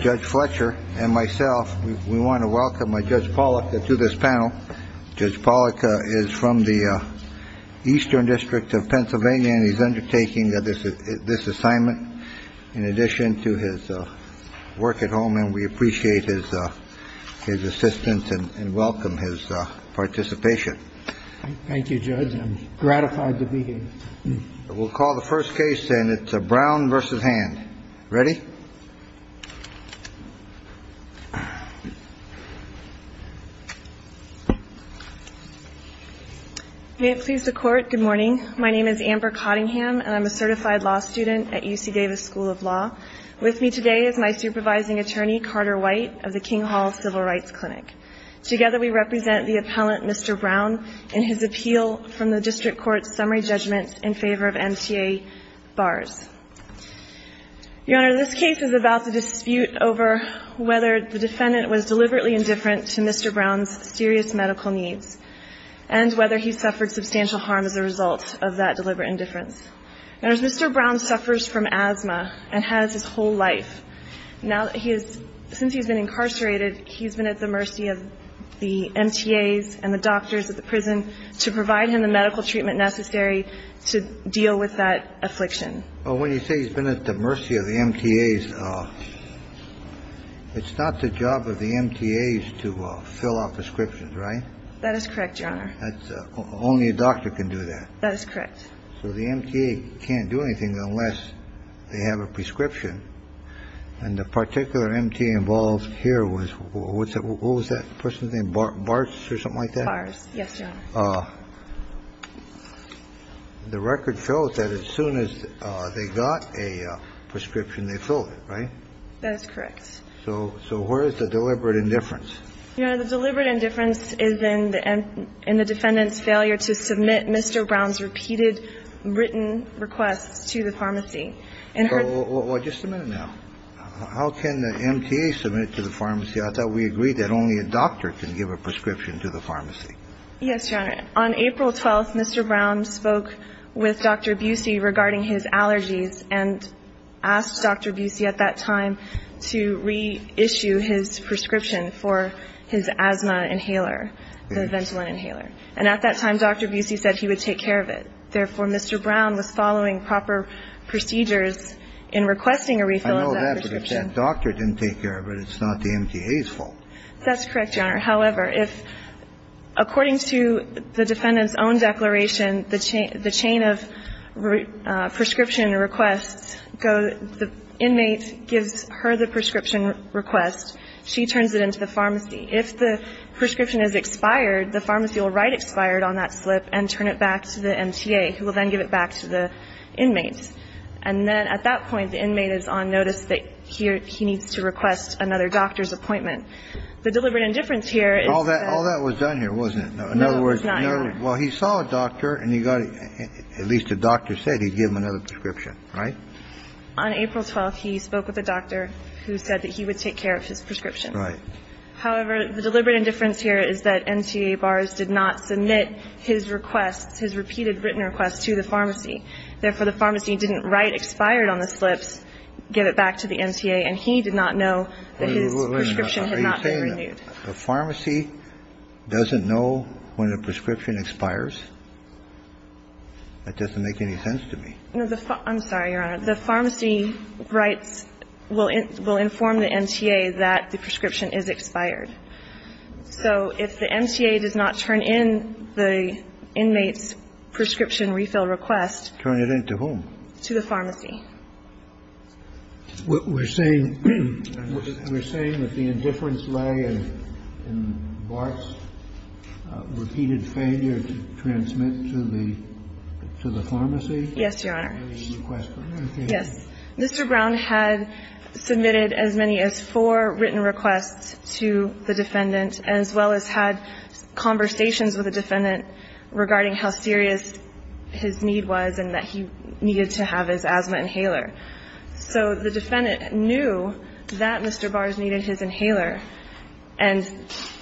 Judge Fletcher and myself, we want to welcome Judge Pollack to this panel. Judge Pollack is from the Eastern District of Pennsylvania, and he's undertaking this assignment, in addition to his work at home, and we appreciate his assistance and welcome his participation. Thank you, Judge. I'm gratified to be here. We'll call the first case, and it's Brown v. Hand. Ready? May it please the Court, good morning. My name is Amber Cottingham, and I'm a certified law student at UC Davis School of Law. With me today is my supervising attorney, Carter White, of the King Hall Civil Rights Clinic. Together, we represent the appellant, Mr. Brown, in his appeal from the district court's summary judgment in favor of MTA bars. Your Honor, this case is about the dispute over whether the defendant was deliberately indifferent to Mr. Brown's serious medical needs and whether he suffered substantial harm as a result of that deliberate indifference. Mr. Brown suffers from asthma and has his whole life. Since he's been incarcerated, he's been at the mercy of the MTAs and the doctors at the prison to provide him the medical treatment necessary to deal with that affliction. Well, when you say he's been at the mercy of the MTAs, it's not the job of the MTAs to fill out prescriptions, right? That is correct, Your Honor. Only a doctor can do that. That is correct. So the MTA can't do anything unless they have a prescription. And the particular MTA involved here was what was that person's name? Bars or something like that? Bars, yes, Your Honor. The record shows that as soon as they got a prescription, they filled it, right? That is correct. So where is the deliberate indifference? Your Honor, the deliberate indifference is in the defendant's failure to submit Mr. Brown's repeated written requests to the pharmacy. Well, just a minute now. How can the MTA submit to the pharmacy? I thought we agreed that only a doctor can give a prescription to the pharmacy. Yes, Your Honor. On April 12th, Mr. Brown spoke with Dr. Busey regarding his allergies and asked Dr. Busey at that time to reissue his prescription for his asthma inhaler, the Ventolin inhaler. And at that time, Dr. Busey said he would take care of it. Therefore, Mr. Brown was following proper procedures in requesting a refill of that prescription. I know that, but if that doctor didn't take care of it, it's not the MTA's fault. That's correct, Your Honor. However, if, according to the defendant's own declaration, the chain of prescription requests, the inmate gives her the prescription request, she turns it into the pharmacy. If the prescription is expired, the pharmacy will write expired on that slip and turn it back to the MTA, who will then give it back to the inmate. And then at that point, the inmate is on notice that he needs to request another doctor's appointment. The deliberate indifference here is that... All that was done here, wasn't it? No, it was not, Your Honor. In other words, well, he saw a doctor and he got it. At least the doctor said he'd give him another prescription, right? On April 12th, he spoke with a doctor who said that he would take care of his prescription. Right. However, the deliberate indifference here is that MTA bars did not submit his requests, his repeated written requests to the pharmacy. Therefore, the pharmacy didn't write expired on the slips, give it back to the MTA, and he did not know that his prescription had not been renewed. Are you saying the pharmacy doesn't know when a prescription expires? That doesn't make any sense to me. I'm sorry, Your Honor. The pharmacy writes, will inform the MTA that the prescription is expired. So if the MTA does not turn in the inmate's prescription refill request... Turn it in to whom? To the pharmacy. We're saying that the indifference lay in Bart's repeated failure to transmit to the pharmacy? Yes, Your Honor. Any request for that? Yes. Mr. Brown had submitted as many as four written requests to the defendant, as well as had conversations with the defendant regarding how serious his need was and that he needed to have his asthma inhaler. So the defendant knew that Mr. Bars needed his inhaler. And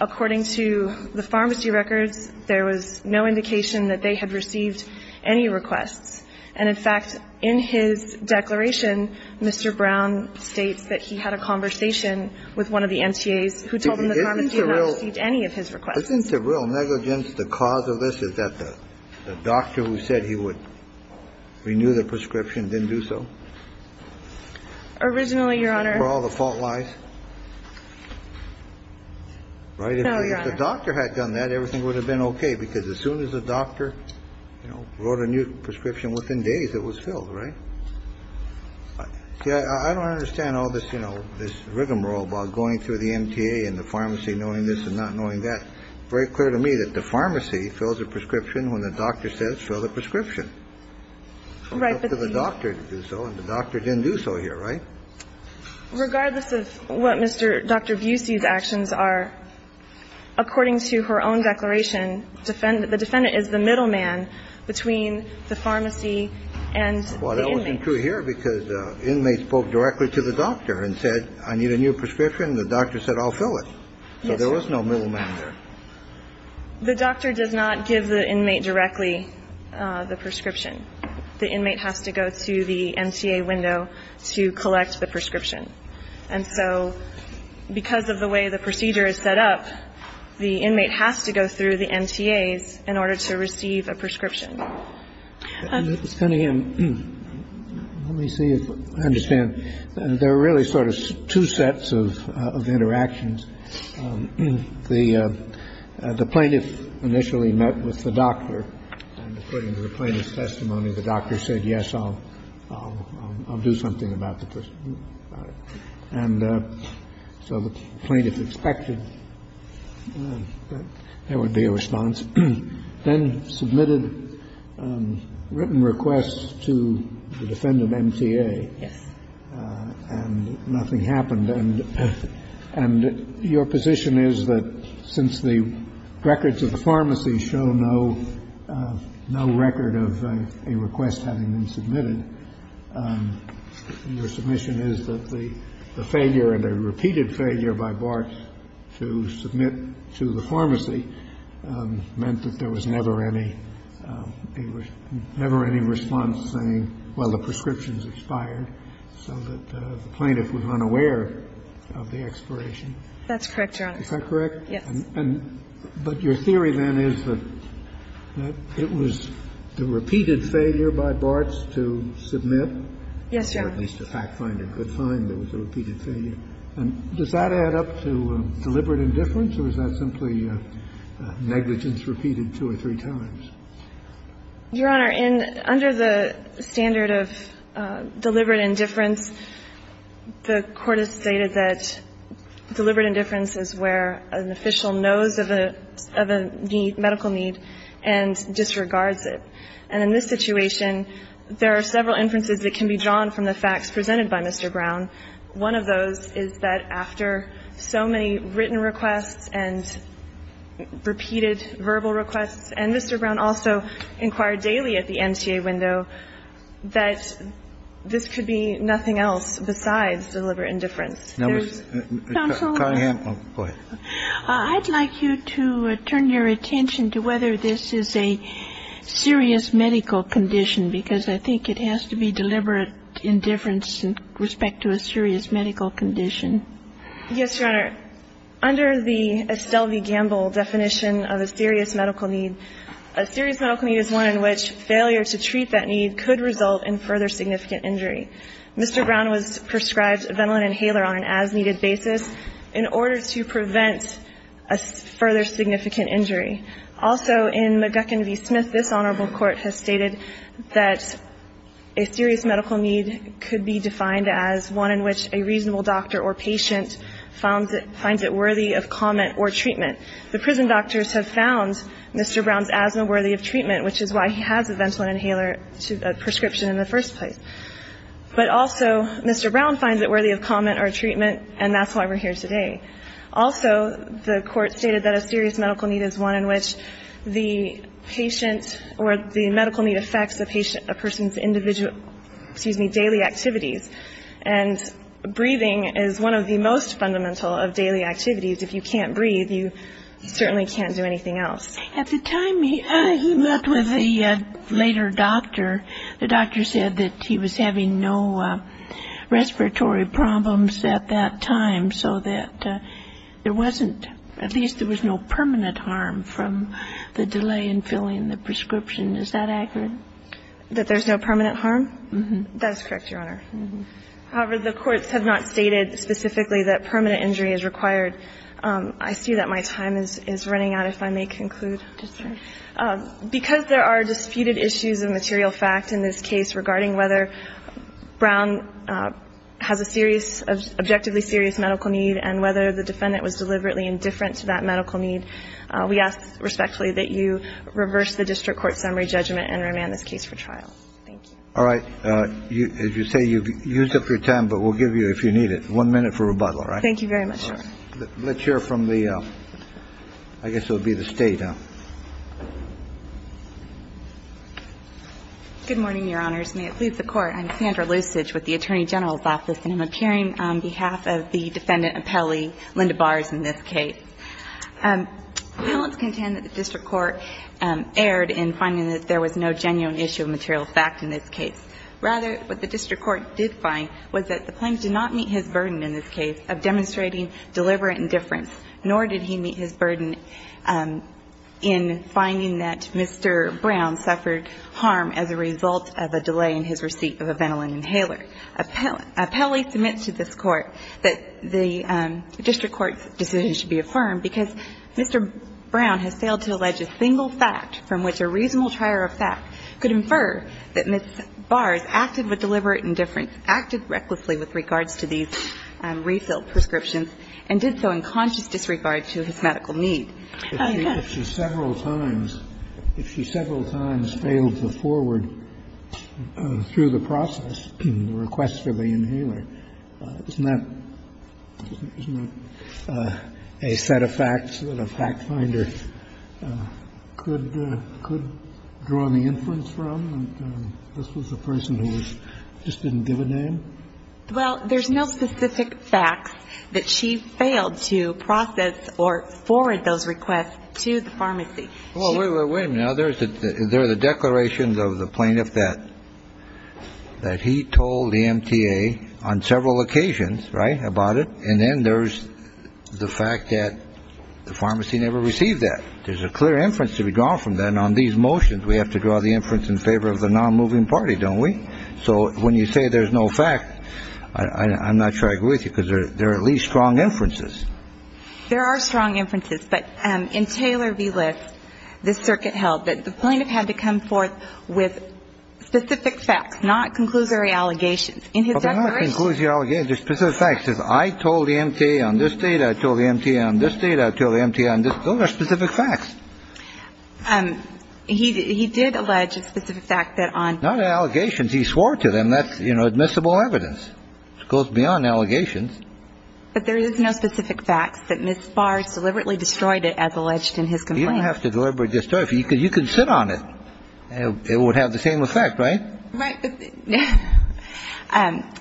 according to the pharmacy records, there was no indication that they had received any requests. And, in fact, in his declaration, Mr. Brown states that he had a conversation with one of the MTAs who told him the pharmacy had not received any of his requests. Isn't the real negligence the cause of this? Is that the doctor who said he would renew the prescription didn't do so? Originally, Your Honor... Where all the fault lies? No, Your Honor. If the doctor had done that, everything would have been okay. Because as soon as the doctor wrote a new prescription, within days it was filled, right? See, I don't understand all this rigmarole about going through the MTA and the pharmacy knowing this and not knowing that. It's very clear to me that the pharmacy fills a prescription when the doctor says fill the prescription. It's up to the doctor to do so, and the doctor didn't do so here, right? Regardless of what Mr. Dr. Busey's actions are, according to her own declaration, the defendant is the middleman between the pharmacy and the inmate. Well, that wasn't true here, because the inmate spoke directly to the doctor and said, I need a new prescription. The doctor said, I'll fill it. So there was no middleman there. The doctor does not give the inmate directly the prescription. The inmate has to go to the MTA window to collect the prescription. And so because of the way the procedure is set up, the inmate has to go through the MTAs in order to receive a prescription. Let me see if I understand. There are really sort of two sets of interactions. The plaintiff initially met with the doctor, and according to the plaintiff's testimony, the doctor said, yes, I'll do something about the prescription. And so the plaintiff expected there would be a response, then submitted written requests to the defendant MTA. Yes. And nothing happened. And your position is that since the records of the pharmacy show no record of a request having been submitted, your submission is that the failure and a repeated failure by BART to submit to the pharmacy meant that there was never any response saying, well, the prescription's expired, so that the plaintiff was unaware of the expiration? That's correct, Your Honor. Is that correct? Yes. And but your theory, then, is that it was the repeated failure by BARTs to submit? Yes, Your Honor. Or at least the fact finder could find there was a repeated failure. And does that add up to deliberate indifference, or is that simply negligence repeated two or three times? Your Honor, under the standard of deliberate indifference, the Court has stated that deliberate indifference is where an official knows of a need, medical need, and disregards it. And in this situation, there are several inferences that can be drawn from the facts presented by Mr. Brown. One of those is that after so many written requests and repeated verbal requests and Mr. Brown also inquired daily at the NCA window that this could be nothing else besides deliberate indifference. Counsel, I'd like you to turn your attention to whether this is a serious medical condition, because I think it has to be deliberate indifference in respect to a serious medical condition. Yes, Your Honor. Under the Estelle v. Gamble definition of a serious medical need, a serious medical need is one in which failure to treat that need could result in further significant injury. Mr. Brown prescribes a Ventolin inhaler on an as-needed basis in order to prevent a further significant injury. Also, in McGuckin v. Smith, this Honorable Court has stated that a serious medical need could be defined as one in which a reasonable doctor or patient finds it worthy of comment or treatment. The prison doctors have found Mr. Brown's asthma worthy of treatment, which is why he has a Ventolin inhaler prescription in the first place. But also, Mr. Brown finds it worthy of comment or treatment, and that's why we're here today. Also, the Court stated that a serious medical need is one in which the patient or the medical need affects a person's individual, excuse me, daily activities. And breathing is one of the most fundamental of daily activities. If you can't breathe, you certainly can't do anything else. At the time he met with the later doctor, the doctor said that he was having no respiratory problems at that time, so that there wasn't, at least there was no permanent harm. And that's correct, Your Honor. However, the courts have not stated specifically that permanent injury is required. I see that my time is running out, if I may conclude. Just a second. Because there are disputed issues of material fact in this case regarding whether Brown has a serious, objectively serious medical need and whether the defendant was deliberately indifferent to that medical need, we ask respectfully that you reverse the district court summary judgment and remand this case for trial. Thank you. All right. As you say, you've used up your time, but we'll give you, if you need it, one minute for rebuttal, all right? Thank you very much, Your Honor. All right. Let's hear from the, I guess it would be the State, huh? Good morning, Your Honors. May it please the Court. I'm Sandra Loosage with the Attorney General's Office, and I'm appearing on behalf of the defendant appellee, Linda Bars, in this case. Appellants contend that the district court erred in finding that there was no genuine issue of material fact in this case. Rather, what the district court did find was that the plaintiff did not meet his burden in this case of demonstrating deliberate indifference, nor did he meet his burden in finding that Mr. Brown suffered harm as a result of a delay in his receipt of a Ventolin inhaler. The district court, however, appellee submits to this Court that the district court's decision should be affirmed because Mr. Brown has failed to allege a single fact from which a reasonable trier of fact could infer that Ms. Bars acted with deliberate indifference, acted recklessly with regards to these refill prescriptions, and did so in conscious disregard to his medical need. If she several times, if she several times failed to forward through the process the request for the inhaler, isn't that a set of facts that a fact finder could draw the inference from, that this was a person who just didn't give a name? Well, there's no specific facts that she failed to process or forward those requests to the pharmacy. Well, wait a minute. There are the declarations of the plaintiff that he told the MTA on several occasions, right, about it, and then there's the fact that the pharmacy never received that. There's a clear inference to be drawn from that. And on these motions, we have to draw the inference in favor of the non-moving party, don't we? So when you say there's no fact, I'm not sure I agree with you, because there are at least strong inferences. There are strong inferences. But in Taylor v. List, the circuit held that the plaintiff had to come forth with specific facts, not conclusory allegations. In his declaration. Well, they're not conclusory allegations. They're specific facts. He says, I told the MTA on this date. I told the MTA on this date. I told the MTA on this. Those are specific facts. He did allege a specific fact that on. Not allegations. He swore to them. That's admissible evidence. It goes beyond allegations. But there is no specific facts that Ms. Bars deliberately destroyed it as alleged in his complaint. You don't have to deliberately destroy it. You could sit on it. It would have the same effect, right? Right. But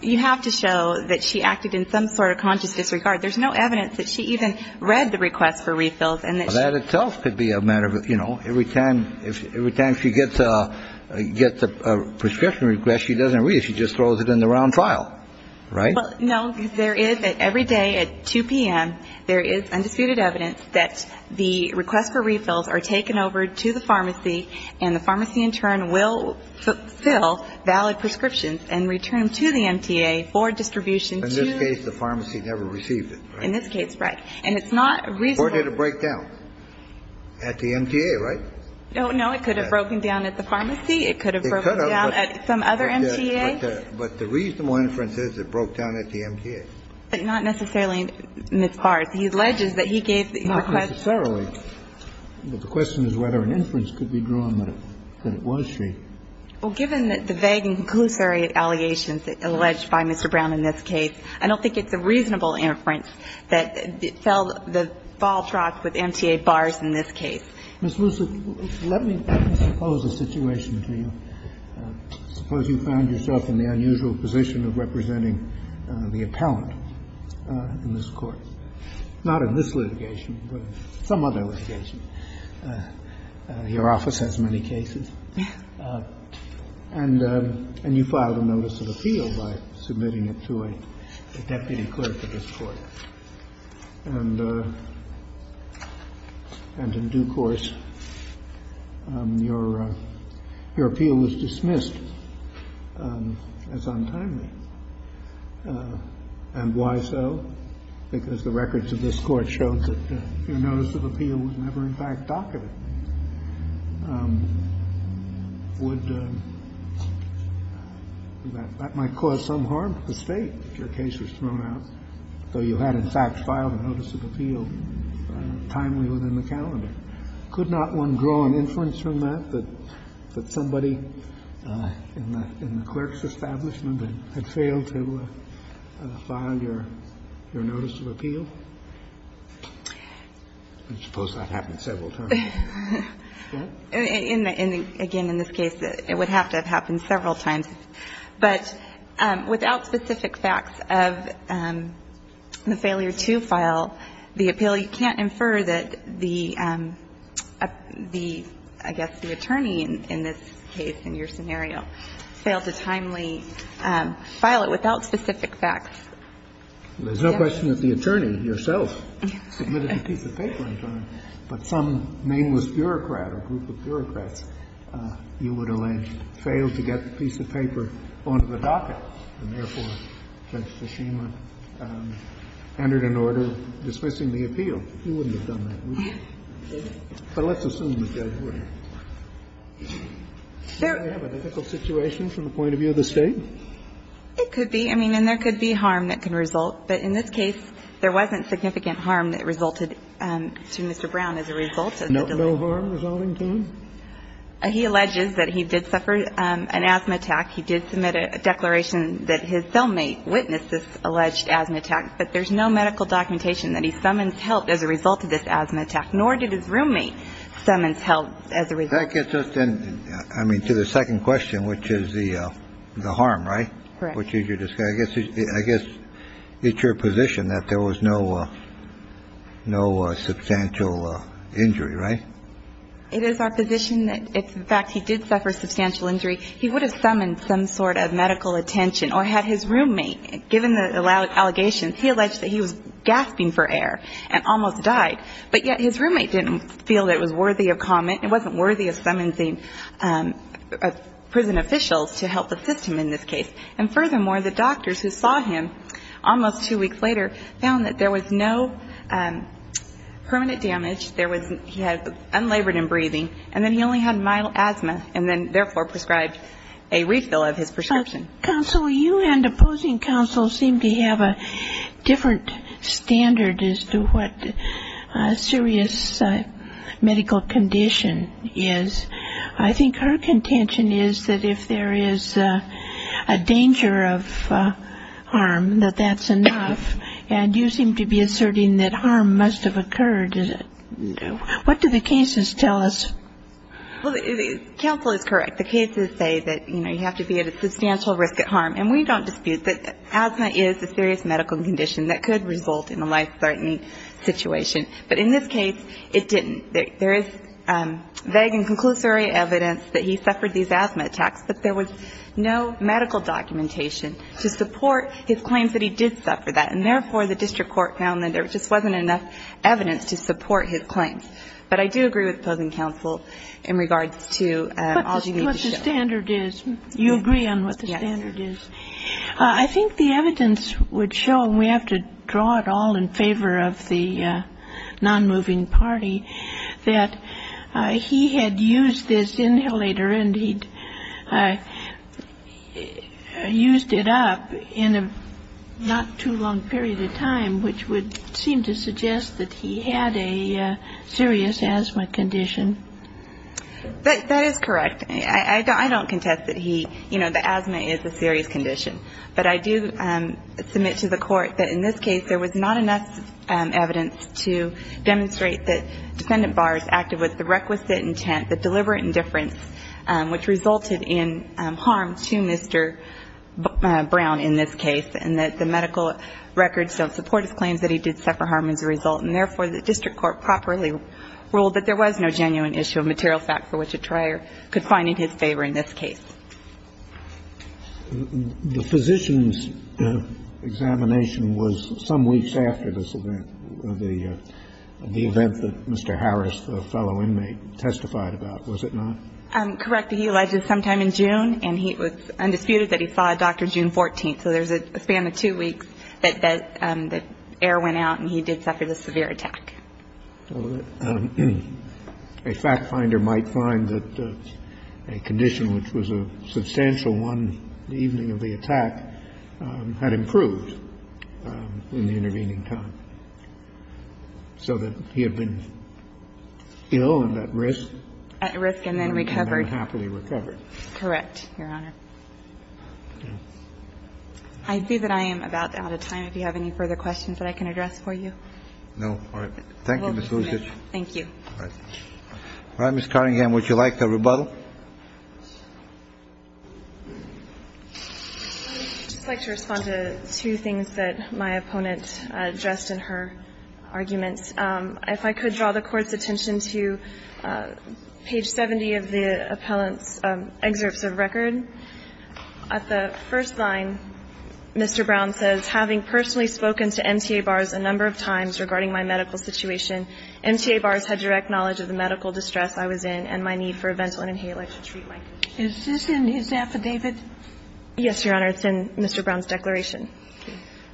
you have to show that she acted in some sort of conscious disregard. There's no evidence that she even read the request for refills. That itself could be a matter of, you know, every time she gets a prescription request, she doesn't read it. She just throws it in the round file, right? No. There is. Every day at 2 p.m., there is undisputed evidence that the request for refills are taken over to the pharmacy, and the pharmacy in turn will fill valid prescriptions and return to the MTA for distribution to. In this case, the pharmacy never received it, right? In this case, right. And it's not reasonable. Or did it break down at the MTA, right? Oh, no. It could have broken down at the pharmacy. It could have broken down at some other MTA. But the reasonable inference is it broke down at the MTA. But not necessarily Ms. Bars. He alleges that he gave the request. Not necessarily. But the question is whether an inference could be drawn that it was she. Well, given the vague and conclusive allegations alleged by Mr. Brown in this case, I don't think it's a reasonable inference that it fell, the ball dropped with MTA Bars in this case. Ms. Wilson, let me suppose a situation to you. Suppose you found yourself in the unusual position of representing the appellant in this court. Not in this litigation, but in some other litigation. Your office has many cases. And you filed a notice of appeal by submitting it to a deputy clerk of this court. And in due course, your appeal was dismissed as untimely. And why so? Because the records of this court showed that your notice of appeal was never in fact documented. Would that might cause some harm to the State if your case was thrown out. So you had, in fact, filed a notice of appeal timely within the calendar. Could not one draw an inference from that that somebody in the clerk's establishment had failed to file your notice of appeal? I suppose that happened several times. Again, in this case, it would have to have happened several times. But without specific facts of the failure to file the appeal, you can't infer that the, I guess, the attorney in this case, in your scenario, failed to timely file it without specific facts. There's no question that the attorney, yourself, submitted a piece of paper in time. But some nameless bureaucrat or group of bureaucrats, you would allege, failed to get the piece of paper onto the docket. And therefore, Judge Tshishima entered an order dismissing the appeal. You wouldn't have done that, would you? But let's assume the judge would. Does that have an ethical situation from the point of view of the State? It could be. I mean, and there could be harm that can result. But in this case, there wasn't significant harm that resulted to Mr. Brown as a result. No harm resulting to him? He alleges that he did suffer an asthma attack. He did submit a declaration that his cellmate witnessed this alleged asthma attack. But there's no medical documentation that he summons help as a result of this asthma attack, nor did his roommate summons help as a result. That gets us in, I mean, to the second question, which is the the harm, right? Which is your guess. I guess it's your position that there was no no substantial injury. Right. It is our position that in fact, he did suffer substantial injury. He would have summoned some sort of medical attention or had his roommate given the allegations. He alleged that he was gasping for air and almost died. But yet his roommate didn't feel it was worthy of comment. It wasn't worthy of summoning prison officials to help assist him in this case. And furthermore, the doctors who saw him almost two weeks later found that there was no permanent damage. He had unlabored in breathing. And then he only had mild asthma and then therefore prescribed a refill of his prescription. Counsel, you and opposing counsel seem to have a different standard as to what a serious medical condition is. I think her contention is that if there is a danger of harm, that that's enough. And you seem to be asserting that harm must have occurred. Is it? No. What do the cases tell us? Counsel is correct. The cases say that, you know, you have to be at a substantial risk at harm. And we don't dispute that asthma is a serious medical condition that could result in a life-threatening situation. But in this case, it didn't. There is vague and conclusory evidence that he suffered these asthma attacks. But there was no medical documentation to support his claims that he did suffer that. And therefore, the district court found that there just wasn't enough evidence to support his claims. But I do agree with opposing counsel in regards to all you need to show. But what the standard is. You agree on what the standard is. Yes. I think the evidence would show, and we have to draw it all in favor of the non-moving party, that he had used this inhalator and he'd used it up in a not too long period of time, which would seem to suggest that he had a serious asthma condition. That is correct. I don't contest that he, you know, the asthma is a serious condition. But I do submit to the Court that in this case, there was not enough evidence to demonstrate that defendant Barrs acted with the requisite intent, the deliberate indifference, which resulted in harm to Mr. Brown in this case, and that the medical records don't support his claims that he did suffer harm as a result. And therefore, the district court properly ruled that there was no genuine issue of material fact for which a trier could find it in his favor in this case. The physician's examination was some weeks after this event, the event that Mr. Harris, the fellow inmate, testified about, was it not? Correct. He alleged sometime in June. And it was undisputed that he saw a doctor June 14th. So there's a span of two weeks that the air went out and he did suffer the severe attack. A fact finder might find that a condition which was a substantial one, the evening of the attack, had improved in the intervening time. So that he had been ill and at risk. At risk and then recovered. And then happily recovered. Correct, Your Honor. I see that I am about out of time. If you have any further questions that I can address for you. No. Thank you, Ms. Lusitch. Thank you. All right. All right, Ms. Cunningham, would you like a rebuttal? I would just like to respond to two things that my opponent addressed in her argument. If I could draw the Court's attention to page 70 of the appellant's excerpts of record. At the first line, Mr. Brown says, Having personally spoken to MTA bars a number of times regarding my medical situation, MTA bars had direct knowledge of the medical distress I was in and my need for a ventral inhaler to treat my condition. Is this in his affidavit? Yes, Your Honor. It's in Mr. Brown's declaration.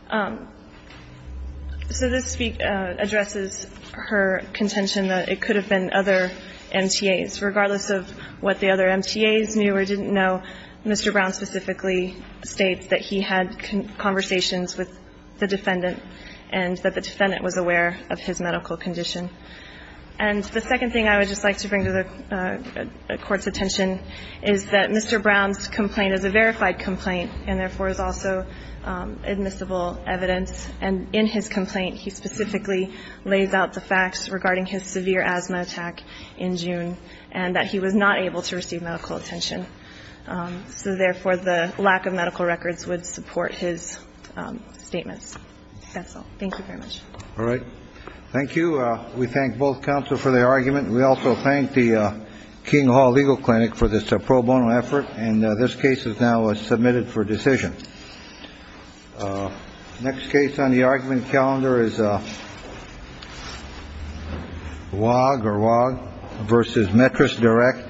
So this addresses her contention that it could have been other MTAs. Regardless of what the other MTAs knew or didn't know, Mr. Brown specifically states that he had conversations with the defendant and that the defendant was aware of his medical condition. And the second thing I would just like to bring to the Court's attention is that Mr. Brown's complaint is a verified complaint and, therefore, is also admissible evidence. And in his complaint, he specifically lays out the facts regarding his severe asthma attack in June and that he was not able to receive medical attention. So, therefore, the lack of medical records would support his statements. That's all. Thank you very much. All right. Thank you. We thank both counsel for their argument. And we also thank the King Hall Legal Clinic for this pro bono effort. And this case is now submitted for decision. Next case on the argument calendar is a log or log versus mattress direct.